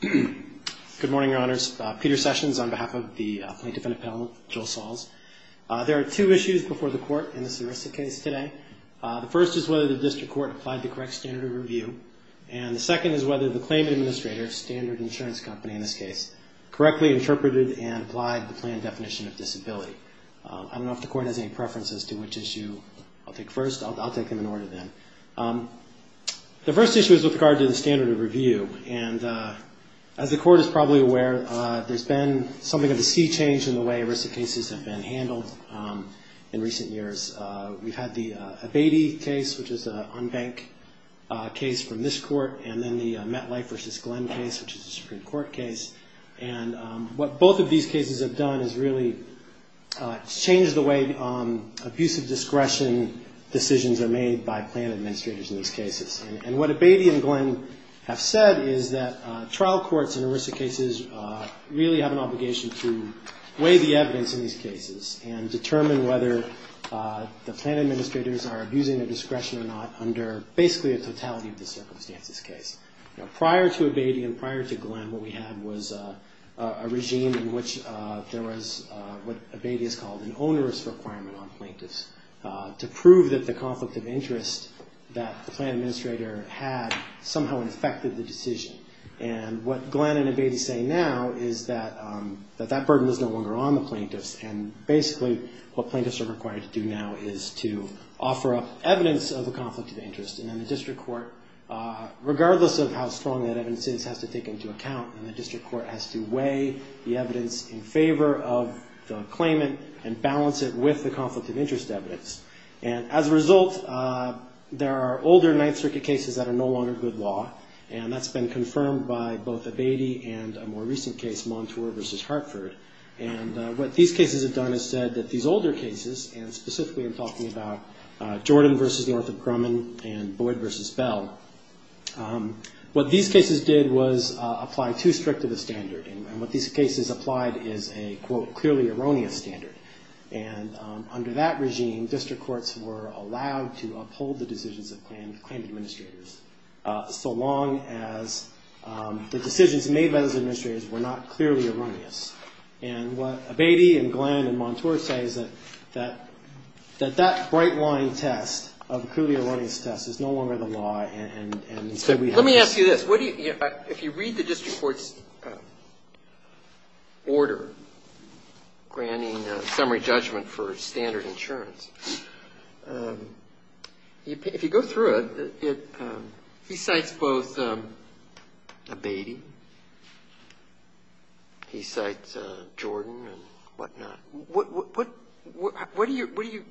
Good morning, Your Honors. Peter Sessions on behalf of the Plaintiff Independent Panel, Joel Salz. There are two issues before the Court in this heuristic case today. The first is whether the District Court applied the correct standard of review, and the second is whether the claim administrator, Standard Insurance Company in this case, correctly interpreted and applied the plan definition of disability. I don't know if the Court has any preference as to which issue I'll take first. I'll take them in order then. The first issue is with regard to the standard of review. And as the Court is probably aware, there's been something of a sea change in the way heuristic cases have been handled in recent years. We've had the Abatey case, which is an unbanked case from this Court, and then the MetLife v. Glenn case, which is a Supreme Court case. And what both of these cases have done is really changed the way abusive discretion decisions are made by plan administrators in these cases. And what Abatey and Glenn have said is that trial courts in heuristic cases really have an obligation to weigh the evidence in these cases and determine whether the plan administrators are abusing their discretion or not under basically a totality of the circumstances case. Prior to Abatey and prior to Glenn, what we had was a regime in which there was what Abatey has called an onerous requirement on plaintiffs to prove that the conflict of interest that the plan administrator had somehow affected the decision. And what Glenn and Abatey say now is that that burden is no longer on the plaintiffs, and basically what plaintiffs are required to do now is to offer up evidence of the conflict of interest. And then the district court, regardless of how strong that evidence is, has to take into account, and the district court has to weigh the evidence and balance it with the conflict of interest evidence. And as a result, there are older Ninth Circuit cases that are no longer good law, and that's been confirmed by both Abatey and a more recent case, Montour v. Hartford. And what these cases have done is said that these older cases, and specifically I'm talking about Jordan v. Northrop Grumman and Boyd v. Bell, what these cases did was apply too strict of a standard. And what these cases applied is a, quote, clearly erroneous standard. And under that regime, district courts were allowed to uphold the decisions of claimed administrators, so long as the decisions made by those administrators were not clearly erroneous. And what Abatey and Glenn and Montour say is that that bright-line test of a clearly erroneous test is no longer the law, and instead we have this. Let me ask you this. What do you, if you read the district court's order, what does it say? Granting summary judgment for standard insurance. If you go through it, it, he cites both Abatey, he cites Jordan and whatnot. What do you really,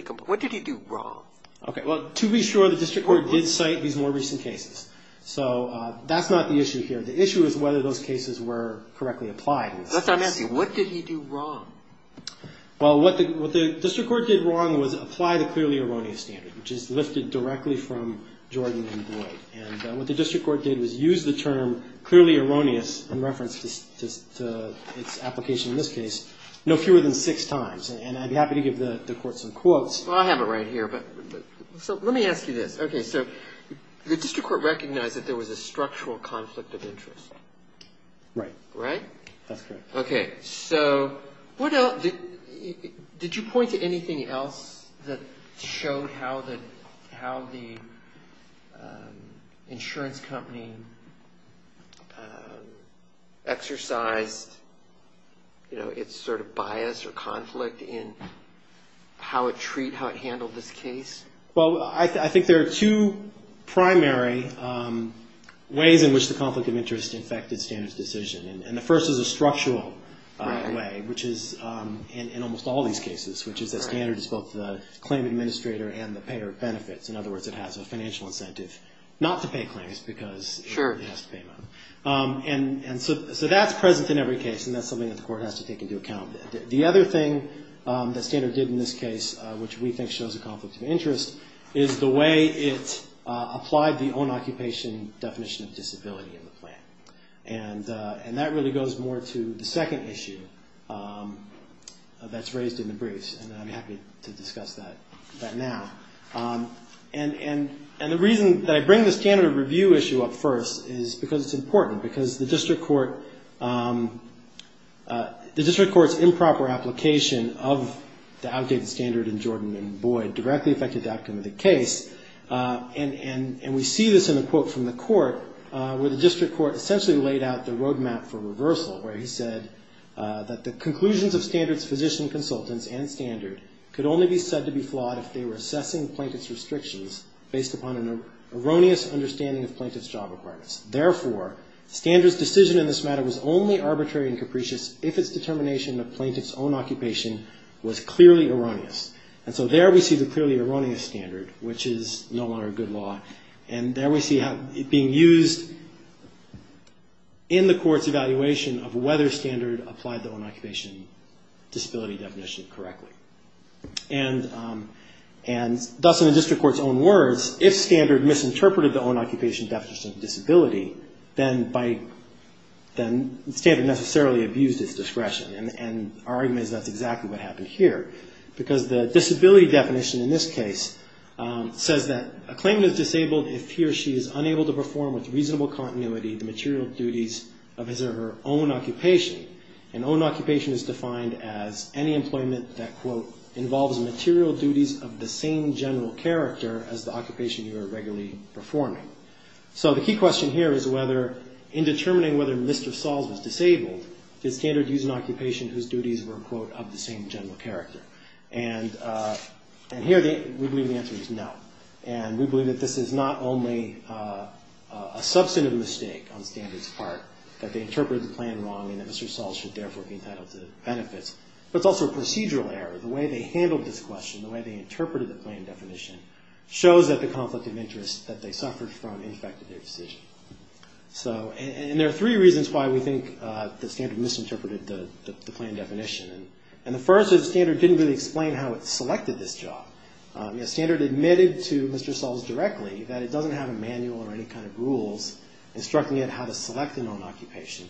what did he do wrong? Okay. Well, to be sure, the district court did cite these more recent cases. So that's not the issue here. The issue is whether those cases were correctly applied. That's what I'm asking. What did he do wrong? Well, what the district court did wrong was apply the clearly erroneous standard, which is lifted directly from Jordan and Boyd. And what the district court did was use the term clearly erroneous in reference to its application in this case no fewer than six times. And I'd be happy to give the court some quotes. Well, I have it right here. But so let me ask you this. Okay. So the district court recognized that there was a structural conflict of interest. Right. Right. That's correct. Okay. So what else, did you point to anything else that showed how the, how the insurance company exercised, you know, its sort of bias or conflict in how it treat, how it handled this case? Well, I think there are two primary ways in which the conflict of interest affected standards decision. And the first is a structural way, which is in almost all these cases, which is that standard is both the claim administrator and the payer of benefits. In other words, it has a financial incentive not to pay claims because it has to pay them. And so that's present in every case. And that's something that the court has to take into account. The other thing that standard did in this case, which we think shows a conflict of interest, is the way it applied the own occupation definition of disability in the plan. And that really goes more to the second issue that's raised in the briefs. And I'm happy to discuss that now. And the reason that I bring this standard review issue up first is because it's improper application of the outdated standard in Jordan and Boyd directly affected the outcome of the case. And we see this in the quote from the court, where the district court essentially laid out the roadmap for reversal, where he said that the conclusions of standards physician consultants and standard could only be said to be flawed if they were assessing plaintiff's restrictions based upon an erroneous understanding of plaintiff's job requirements. Therefore, standards decision in this matter was only arbitrary and capricious if its determination of plaintiff's own occupation was clearly erroneous. And so there we see the clearly erroneous standard, which is no longer good law. And there we see it being used in the court's evaluation of whether standard applied the own occupation disability definition correctly. And thus in the district court's own words, if standard misinterpreted the own occupation definition of disability, then by applying it to the plaintiff's own occupation, then standard necessarily abused its discretion. And our argument is that's exactly what happened here. Because the disability definition in this case says that a claimant is disabled if he or she is unable to perform with reasonable continuity the material duties of his or her own occupation. And own occupation is defined as any employment that quote, involves material duties of the same general character as the occupation you are regularly performing. So the key question here is whether in determining whether Mr. Sahls was disabled, did standard use an occupation whose duties were quote, of the same general character? And here we believe the answer is no. And we believe that this is not only a substantive mistake on standard's part, that they interpreted the plan wrong and that Mr. Sahls should therefore be entitled to benefits, but it's also a procedural error. The way they handled this question, the way they interpreted the plan definition, shows that the standard misinterpreted the plan definition. And the first is standard didn't really explain how it selected this job. Standard admitted to Mr. Sahls directly that it doesn't have a manual or any kind of rules instructing it how to select an own occupation.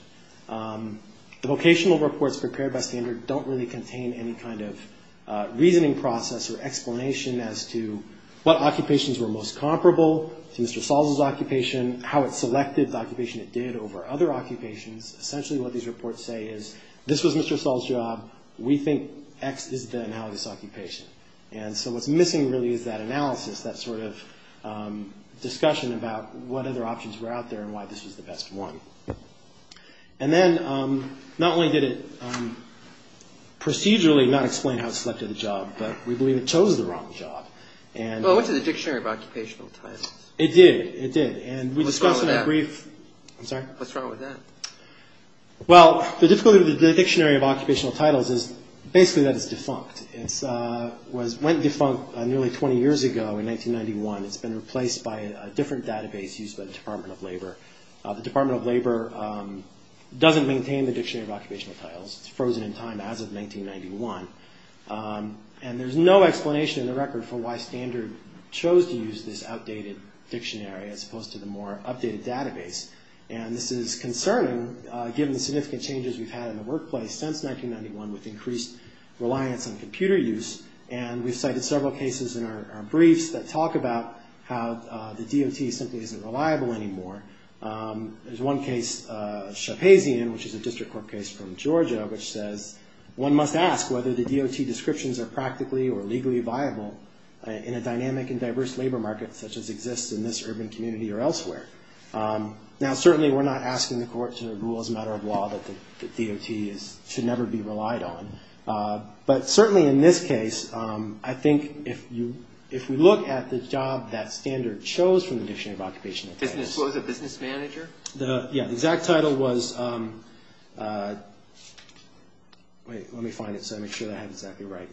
The vocational reports prepared by standard don't really contain any kind of reasoning process or explanation as to what occupations were most comparable to Mr. Sahls' occupation, how it selected the occupation it did over other occupations. Essentially what these reports say is this was Mr. Sahls' job, we think X is the analysis occupation. And so what's missing really is that analysis, that sort of discussion about what other options were out there and why this was the best one. And then not only did it make sense, but it made sense to Mr. Sahls. Well, it went to the Dictionary of Occupational Titles. It did. It did. And we discussed in a brief... What's wrong with that? Well, the difficulty with the Dictionary of Occupational Titles is basically that it's defunct. It went defunct nearly 20 years ago in 1991. And there's no explanation in the record for why Standard chose to use this outdated dictionary as opposed to the more updated database. And this is concerning, given the significant changes we've had in the workplace since 1991 with increased reliance on computer use. And we've cited several cases in our briefs that talk about how the DOT simply isn't reliable anymore. There's one case, Shapazian, which is a district court case from Georgia, which says one DOT is not reliable. You must ask whether the DOT descriptions are practically or legally viable in a dynamic and diverse labor market such as exists in this urban community or elsewhere. Now, certainly we're not asking the court to rule as a matter of law that the DOT should never be relied on. But certainly in this case, I think if we look at the job that Standard chose from the Dictionary of Occupational Titles... This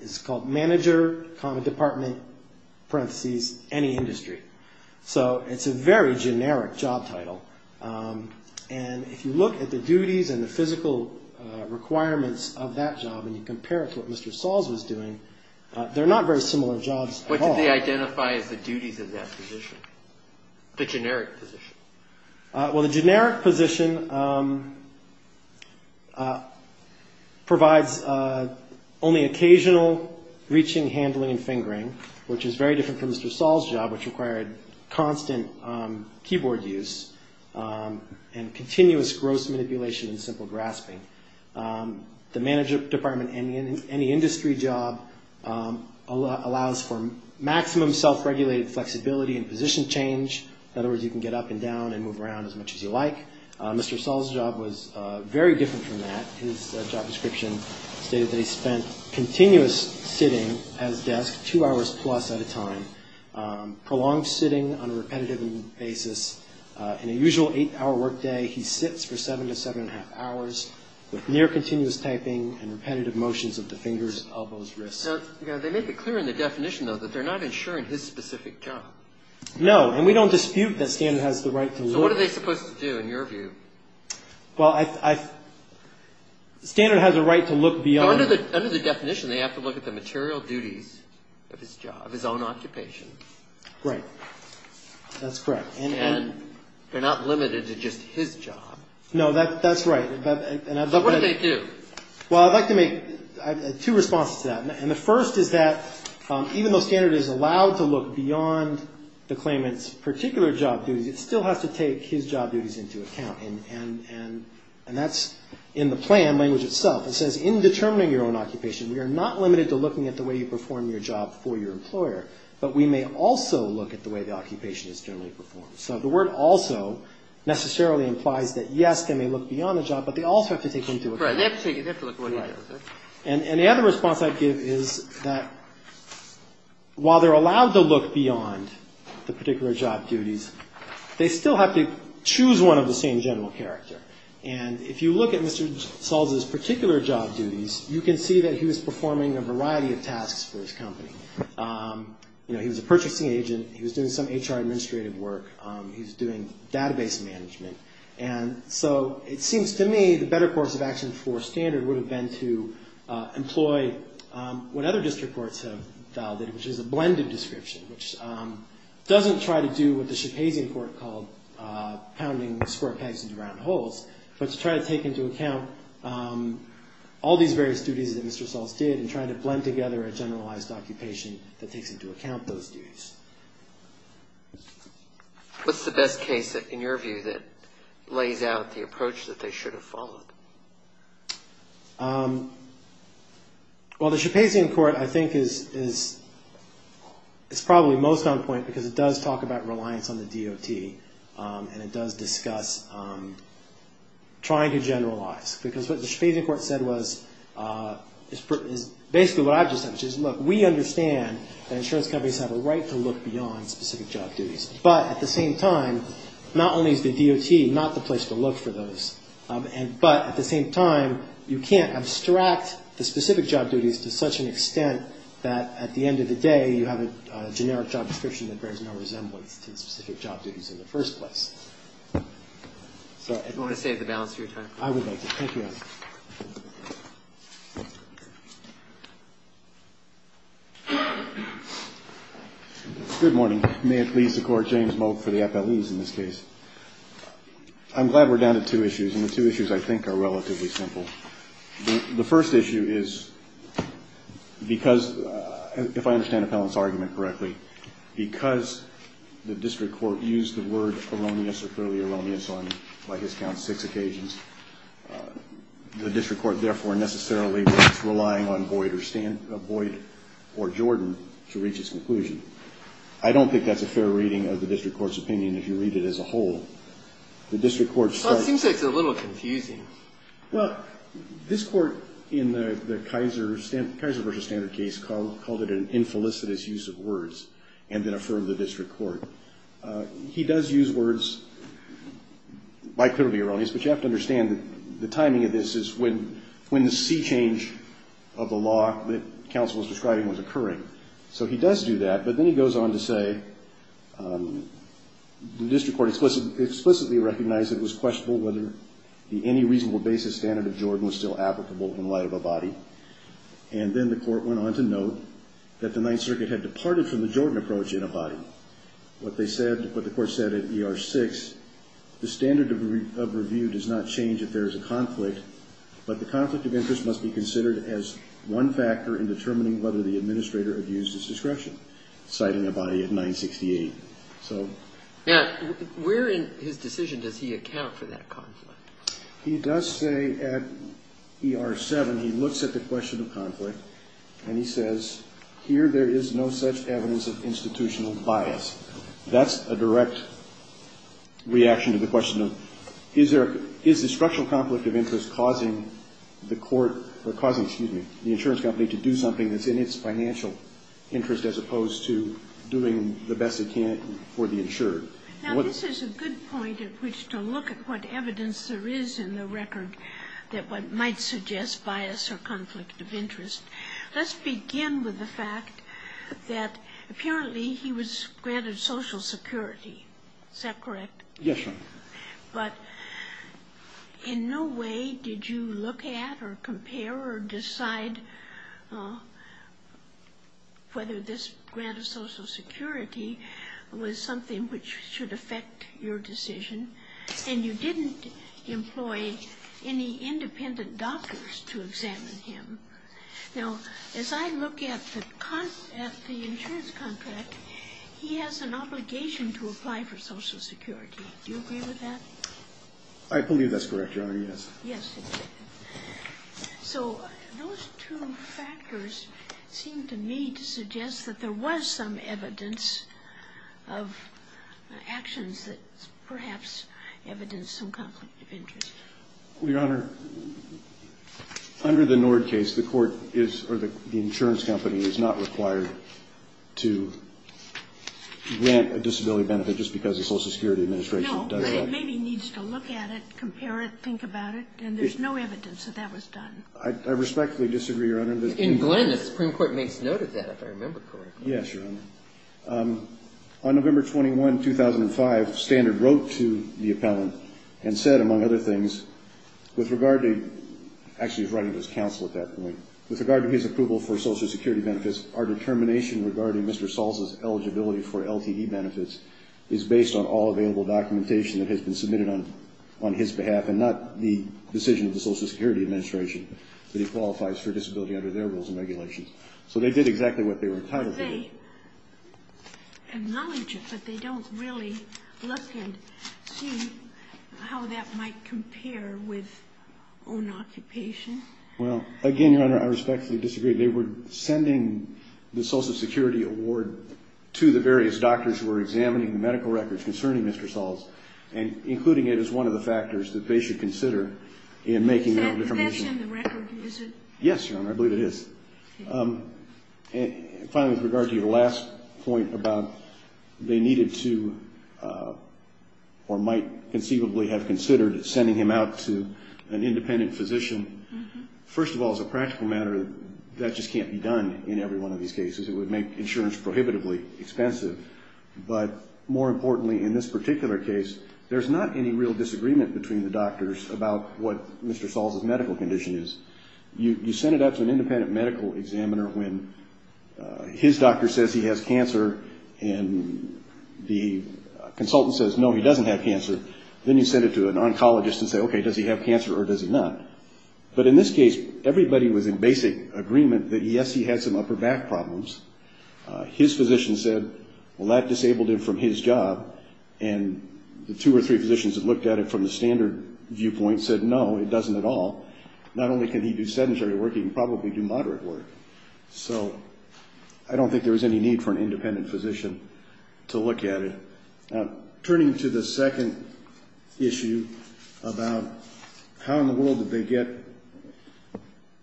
is called Manager, Common Department, parentheses, Any Industry. So it's a very generic job title. And if you look at the duties and the physical requirements of that job and you compare it to what Mr. Sahls was doing, they're not very similar jobs at all. What did they identify as the duties of that position, the generic position? Well, the generic position provides... Only occasional reaching, handling, and fingering, which is very different from Mr. Sahls' job, which required constant keyboard use and continuous gross manipulation and simple grasping. The Manager, Department, Any Industry job allows for maximum self-regulated flexibility and position change. In other words, you can get up and down and move around as much as you like. Mr. Sahls' job was very simple. They spent continuous sitting at his desk, two hours plus at a time. Prolonged sitting on a repetitive basis. In a usual eight-hour workday, he sits for seven to seven and a half hours with near-continuous typing and repetitive motions of the fingers, elbows, wrists. They make it clear in the definition, though, that they're not insuring his specific job. No, and we don't dispute that Standard has the right to look... So what are they supposed to do, in your view? Standard has a right to look beyond... Under the definition, they have to look at the material duties of his job, his own occupation. Right. That's correct. And they're not limited to just his job. No, that's right. So what do they do? Well, I'd like to make two responses to that. And the first is that even though Standard is allowed to look beyond the claimant's particular job duties, it still has to take his job duties into account. And that's in the plan language itself. It says, in determining your own occupation, we are not limited to looking at the way you perform your job for your employer, but we may also look at the way the occupation is generally performed. So the word also necessarily implies that, yes, they may look beyond the job, but they also have to take into account... Right. They have to look at what he does. And the other response I'd give is that while they're allowed to look beyond the particular job duties, they still have to choose one of the same general character. And if you look at Mr. Salza's particular job duties, you can see that he was performing a variety of tasks for his company. He was a purchasing agent. He was doing some HR administrative work. He was doing database management. And so it seems to me the better course of action for Standard would have been to employ what other district courts have validated, which is a blended description, which doesn't try to do what the Shapazian court called pounding square pegs into round holes, but to try to take into account all these various duties that Mr. Salza did and try to blend together a generalized occupation that takes into account those duties. What's the best case, in your view, that lays out the approach that they should have followed? Well, the Shapazian court, I think, is probably most on point because it does talk about reliance on the DOT, and it does discuss trying to generalize. Because what the Shapazian court said was basically what I've just said, which is, look, we understand that insurance companies have a right to look beyond specific job duties. But at the same time, not only is the DOT not the place to look for those, but at the same time, you can't abstract the specific job duties to such an extent that at the end of the day, you have a generic job description that bears no resemblance to the specific job duties in the first place. I'm glad we're down to two issues, and the two issues, I think, are relatively simple. The first issue is, if I understand Appellant's argument correctly, because the district court used the word erroneous or clearly erroneous on, by his count, six occasions, the district court therefore necessarily was relying on Boyd or Jordan to reach its conclusion. I don't think that's a fair reading of the district court's opinion if you read it as a whole. Well, it seems like it's a little confusing. Well, this court in the Kaiser v. Standard case called it an infelicitous use of words and then affirmed the district court. He does use words by clearly erroneous, but you have to understand that the timing of this is when the sea change of the law that counsel was describing was occurring. So he does do that, but then he goes on to say the district court explicitly recognized it was questionable whether the any reasonable basis standard of Jordan was still applicable in light of Abadie, and then the court went on to note that the Ninth Circuit had departed from the Jordan approach in Abadie. What they said, what the court said at ER6, the standard of review does not change if there is a conflict, but the conflict of interest must be considered as one factor in determining whether the administrator abused his discretion, citing Abadie at 968. Now, where in his decision does he account for that conflict? He does say at ER7 he looks at the question of conflict, and he says here there is no such evidence of institutional bias. That's a direct reaction to the question of is the structural conflict of interest causing the court, or causing, excuse me, the insurance company to do something that's in its financial interest as opposed to doing the best it can for the insured. Now, this is a good point at which to look at what evidence there is in the record that might suggest bias or conflict of interest. Let's begin with the fact that apparently he was granted Social Security. Is that correct? Yes, Your Honor. But in no way did you look at or compare or decide whether this grant of Social Security was something which should affect your decision, and you didn't employ any independent doctors to examine him. Now, as I look at the insurance contract, he has an obligation to apply for Social Security. Do you agree with that? I believe that's correct, Your Honor, yes. So those two factors seem to me to suggest that there was some evidence of actions that perhaps evidenced some conflict of interest. Well, Your Honor, under the Nord case, the court is, or the insurance company is not required to grant a disability benefit just because the Social Security Administration does it. No, but it maybe needs to look at it, compare it, think about it, and there's no evidence that that was done. I respectfully disagree, Your Honor. In Glenn, the Supreme Court may have noted that, if I remember correctly. Yes, Your Honor. On November 21, 2005, Standard wrote to the appellant and said, among other things, with regard to, actually he was writing to his office on all available documentation that has been submitted on his behalf, and not the decision of the Social Security Administration that he qualifies for disability under their rules and regulations. So they did exactly what they were entitled to do. They acknowledge it, but they don't really look and see how that might compare with own occupation. Well, again, Your Honor, I respectfully disagree. They were sending the Social Security Award to the various doctors who were examining the medical records concerning Mr. Sahls, and including it as one of the factors that they should consider in making that determination. Is that in the record? Is it? Yes, Your Honor, I believe it is. Finally, with regard to your last point about they needed to, or might conceivably have considered sending him out to an independent physician. First of all, as a practical matter, that just can't be done in every one of these cases. It would make insurance prohibitively expensive. But more importantly, in this particular case, there's not any real disagreement between the doctors about what Mr. Sahls' medical condition is. You send it up to an independent medical examiner when his doctor says he has cancer, and the consultant says, no, he doesn't have cancer. Then you send it to an oncologist and say, okay, does he have cancer or does he not? But in this case, everybody was in basic agreement that, yes, he had some upper back problems. His physician said, well, that disabled him from his job, and the two or three physicians that looked at it from the standard viewpoint said, no, it doesn't at all. Not only can he do sedentary work, he can probably do moderate work. So I don't think there was any need for an independent physician to look at it. Now, turning to the second issue about how in the world did they get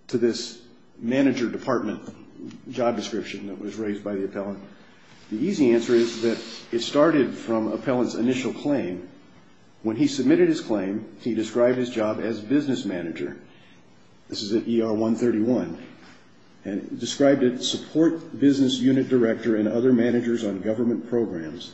to this manager department job description that was raised by the appellant, the easy answer is that it started from appellant's initial claim. When he submitted his claim, he described his job as business manager. This is at ER 131. And he described it, support business unit director and other managers on government programs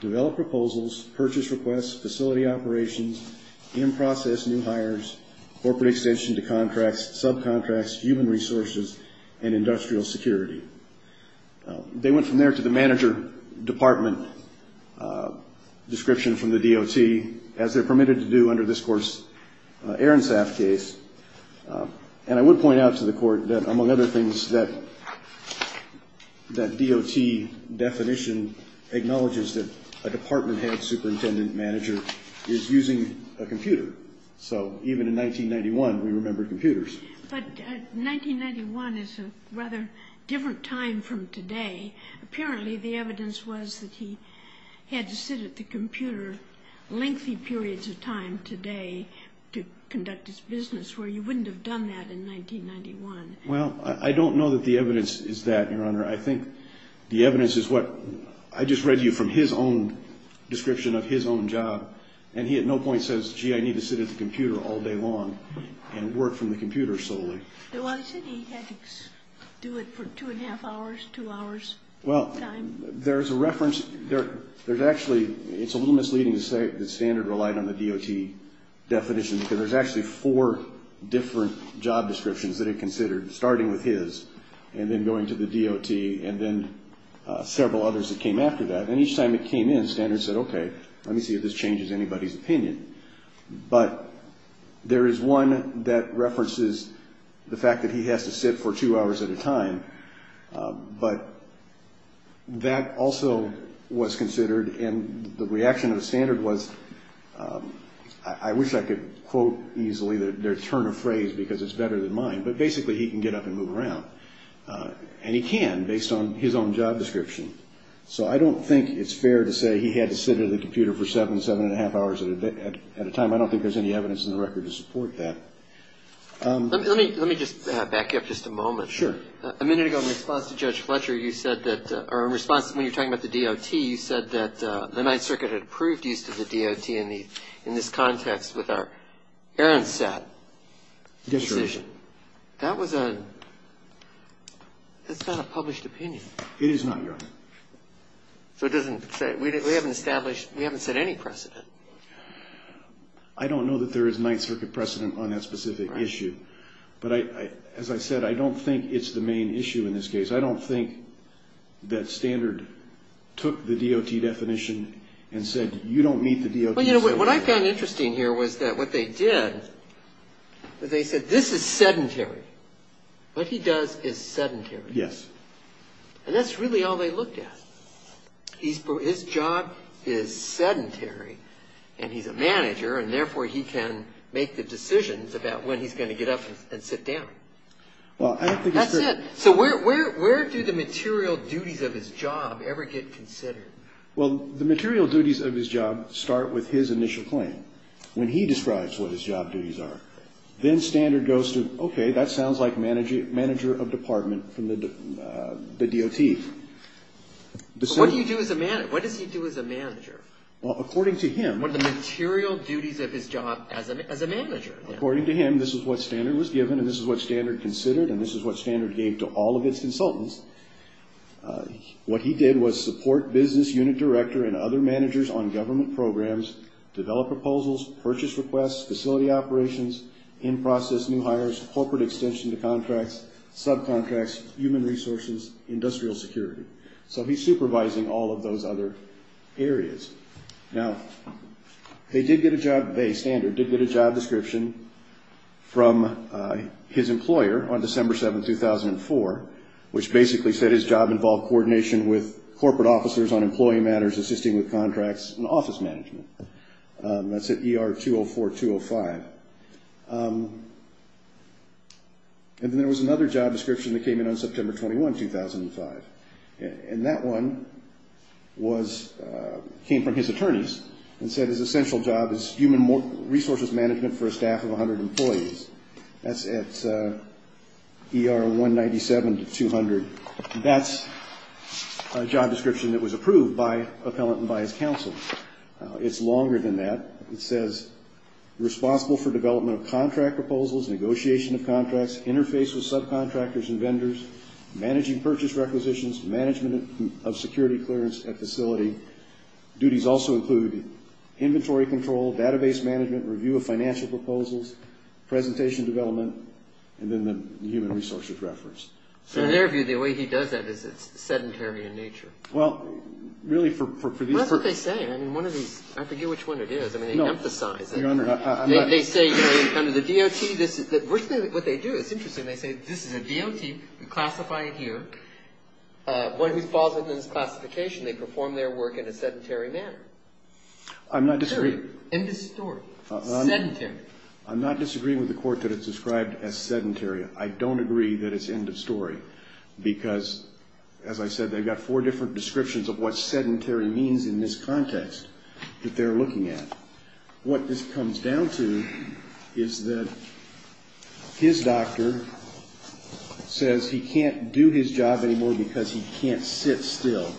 to develop proposals, purchase requests, facility operations, in-process new hires, corporate extension to contracts, subcontracts, human resources, and industrial security. They went from there to the manager department description from the DOT, as they're permitted to do under this Court's Aronsaf case. And I would point out to the Court that, among other things, that DOT definition acknowledges that a department head superintendent manager is using a computer. So even in 1991, we remembered computers. But 1991 is a rather different time from today. Apparently, the evidence was that he had to sit at the computer lengthy periods of time today to conduct his business, where you wouldn't have done that in 1991. Well, I don't know that the evidence is that, Your Honor. I think the evidence is what I just read to you from his own description of his own job. And he at no point says, gee, I need to sit at the computer all day long and work from the computer solely. Well, there's a reference. There's actually, it's a little misleading to say the standard relied on the DOT definition, because there's actually four different job descriptions that he considered, starting with his, and then going to the DOT, and then several others that came after that. And each time it came in, standards said, okay, let me see if this changes anybody's opinion. But there is one that references the fact that he has to sit for two hours at a time. But that also was considered, and the reaction of the standard was, I wish I could quote easily their turn of phrase, because it's better than mine, but basically he can get up and move around and do his job description. So I don't think it's fair to say he had to sit at the computer for seven, seven and a half hours at a time. I don't think there's any evidence in the record to support that. Let me just back up just a moment. Sure. A minute ago, in response to Judge Fletcher, you said that, or in response to when you're talking about the DOT, you said that the Ninth Circuit had approved use of the DOT in this context with our errand set decision. Yes, Your Honor. So it doesn't say, we haven't established, we haven't set any precedent. I don't know that there is Ninth Circuit precedent on that specific issue. But as I said, I don't think it's the main issue in this case. I don't think that standard took the DOT definition and said, you don't meet the DOT standard. Well, you know, what I found interesting here was that what they did, they said, this is sedentary. What he does is sedentary. Yes. And that's really all they looked at. His job is sedentary, and he's a manager, and therefore he can make the decisions about when he's going to get up and sit down. Well, I don't think it's very... That's it. So where do the material duties of his job ever get considered? Well, the material duties of his job start with his initial claim. When he describes what his job duties are, then standard goes to, okay, that sounds like the DOT. What does he do as a manager? According to him, this is what standard was given, and this is what standard considered, and this is what standard gave to all of its consultants. What he did was support business unit director and other managers on government programs, develop proposals, purchase requests, facility operations, in-process new hires, corporate extension to contracts, subcontracts, human resources, industrial security. So he's supervising all of those other areas. Now, they did get a job, standard did get a job description from his employer on December 7, 2004, which basically said his job involved coordination with corporate officers on employee matters, assisting with contracts and office management. That's at ER 204-205. And then there was another job description that came in on September 21, 2005, and that one came from his attorneys and said his essential job is human resources management for a staff of 100 employees. That's at ER 197-200. That's a job description that was approved by appellant and by his counsel. It's longer than that. It says responsible for development of contract proposals, negotiation of contracts, interface with subcontractors and vendors, managing purchase requisitions, management of security clearance at facility. Duties also include inventory control, database management, review of financial proposals, presentation development, and then the human resources reference. So in their view, the way he does that is it's sedentary in nature. Well, really, for these persons. That's what they say. I mean, one of these, I forget which one it is. I mean, they emphasize it. They say in kind of the DOT, the first thing that they do, it's interesting, they say this is a DOT, we classify it here. One who falls into this classification, they perform their work in a sedentary manner. I'm not disagreeing. I'm not disagreeing with the court that it's described as sedentary. I don't agree that it's end of story, because as I said, they've got four different descriptions of what sedentary means in this context that they're looking at. What it comes down to is that his doctor says he can't do his job anymore because he can't sit still.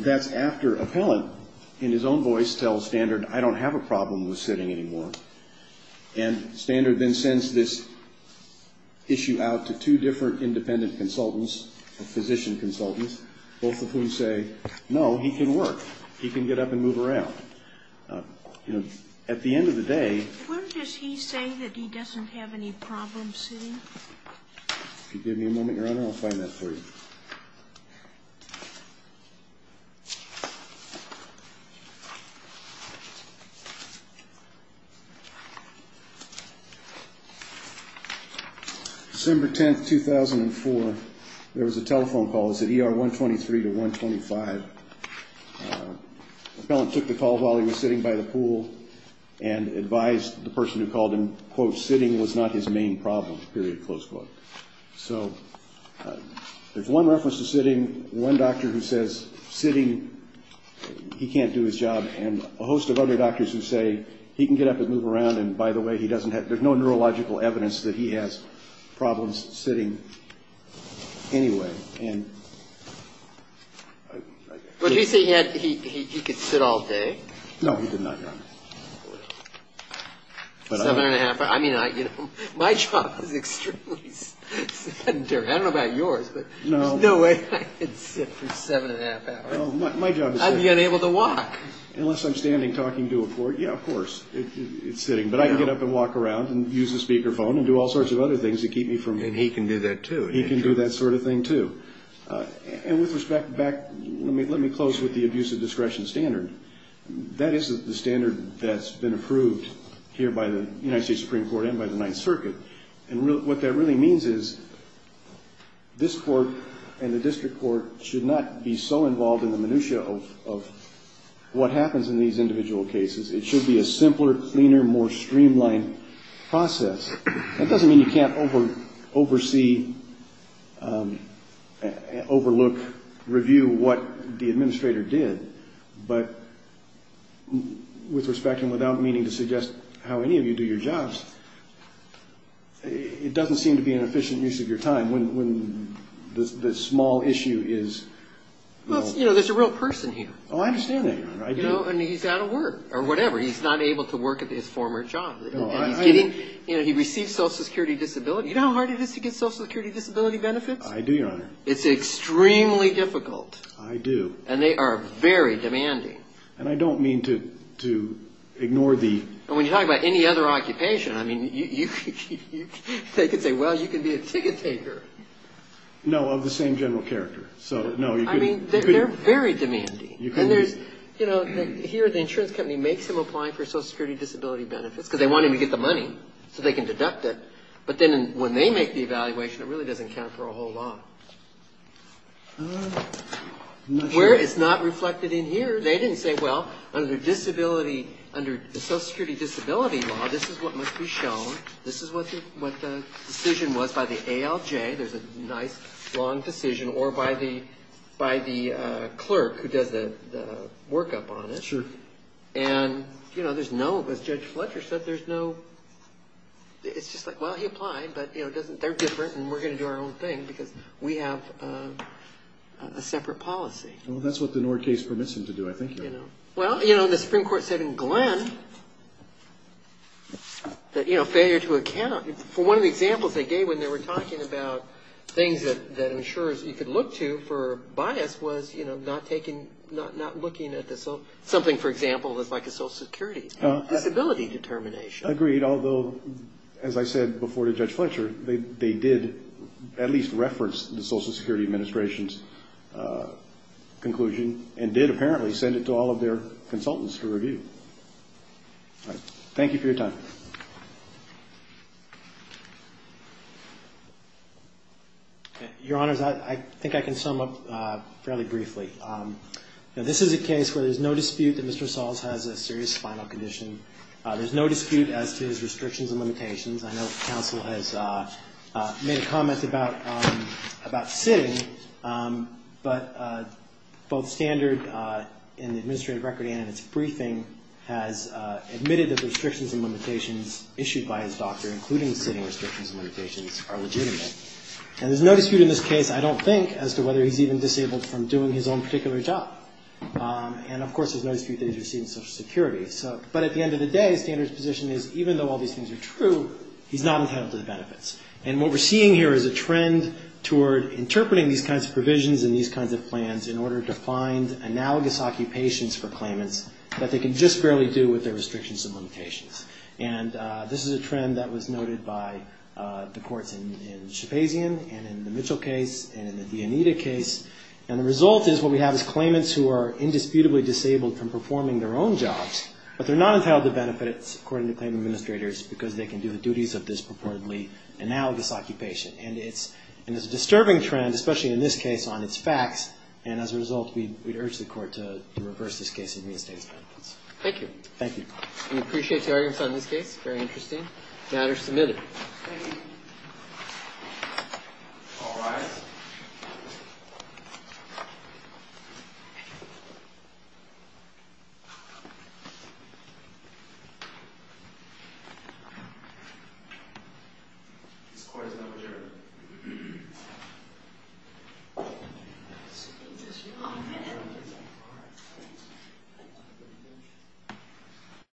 That's after Appellant, in his own voice, tells Standard, I don't have a problem with sitting anymore. And Standard then sends this issue out to two different independent consultants, physician consultants, both of whom say, no, he can work. He can get up and move around. At the end of the day, where does he say that he doesn't have any problems sitting? If you give me a moment, Your Honor, I'll find that for you. December 10, 2004, there was a telephone call. Appellant took the call while he was sitting by the pool and advised the person who called him, quote, sitting was not his main problem, period, close quote. So there's one reference to sitting, one doctor who says sitting, he can't do his job, and a host of other doctors who say he can get up and move around, and by the way, there's no neurological evidence that he has problems sitting anyway. And he said he could sit all day? No, he did not, Your Honor. My job is extremely sedentary. I don't know about yours, but there's no way I could sit for seven and a half hours. I'd be unable to walk. Unless I'm standing talking to a court, yeah, of course, it's sitting, but I can get up and walk around and use a speakerphone and do all sorts of other things to keep me from... And he can do that, too. He can do that sort of thing, too. And with respect back, let me close with the abuse of discretion standard. That is the standard that's been approved here by the United States Supreme Court and by the Ninth Circuit. And what that really means is this court and the district court should not be so involved in the minutia of what happens in these individual cases. It should be a simpler, cleaner, more streamlined process. That doesn't mean you can't overlook, review what the administrator did, but with respect and without meaning to suggest how any of you do your jobs, it doesn't seem to be an efficient use of your time when the small issue is... Well, you know, there's a real person here. Oh, I understand that, Your Honor. And he's out of work or whatever. He's not able to work at his former job. And he's getting, you know, he received Social Security Disability. You know how hard it is to get Social Security Disability benefits? I do, Your Honor. It's extremely difficult. I do. And they are very demanding. And I don't mean to ignore the... And when you talk about any other occupation, I mean, they could say, well, you could be a ticket taker. No, of the same general character. I mean, they're very demanding. And here the insurance company makes him apply for Social Security Disability benefits because they want him to get the money so they can deduct it. But then when they make the evaluation, it really doesn't count for a whole lot. It's not reflected in here. They didn't say, well, under the Social Security Disability law, this is what must be shown. This is what the decision was by the ALJ. There's a nice, long decision, or by the clerk who does the workup on it. And, you know, there's no... As Judge Fletcher said, there's no... It's just like, well, he applied, but they're different and we're going to do our own thing because we have a separate policy. And that's what the Nord case permits him to do, I think. Well, you know, the Supreme Court said in Glenn that, you know, failure to account... For one of the examples they gave when they were talking about things that insurers could look to for bias was, you know, not taking... Not looking at the... Something, for example, that's like a Social Security Disability determination. Agreed. Although, as I said before to Judge Fletcher, they did at least reference the Social Security Administration's conclusions. And did, apparently, send it to all of their consultants to review. All right. Thank you for your time. Your Honors, I think I can sum up fairly briefly. You know, this is a case where there's no dispute that Mr. Sahls has a serious spinal condition. There's no dispute as to his restrictions and limitations. I know counsel has made a comment about sitting, but both Sahls and Mr. Sahls have said that there's no dispute that Mr. Sahls has a serious spinal condition. And, of course, Standard, in the administrative record and in its briefing, has admitted that the restrictions and limitations issued by his doctor, including sitting restrictions and limitations, are legitimate. And there's no dispute in this case, I don't think, as to whether he's even disabled from doing his own particular job. And, of course, there's no dispute that he's receiving Social Security. But at the end of the day, Standard's position is, even though all these things are true, he's not entitled to the benefits. And what we're seeing here is a trend toward interpreting these kinds of provisions and these kinds of plans in order to find analogous occupations for claimants that they can just barely do with their restrictions and limitations. And this is a trend that was noted by the courts in Shepazian and in the Mitchell case and in the Dionita case. And the result is what we have is claimants who are indisputably disabled from performing their own jobs, but they're not entitled to benefits, according to claim administrators, because they can do the duties of this purportedly analogous occupation. And it's a disturbing trend, especially in this case, on its facts. And as a result, we urge the Court to reverse this case and reinstate its benefits. Thank you. Thank you. Thank you.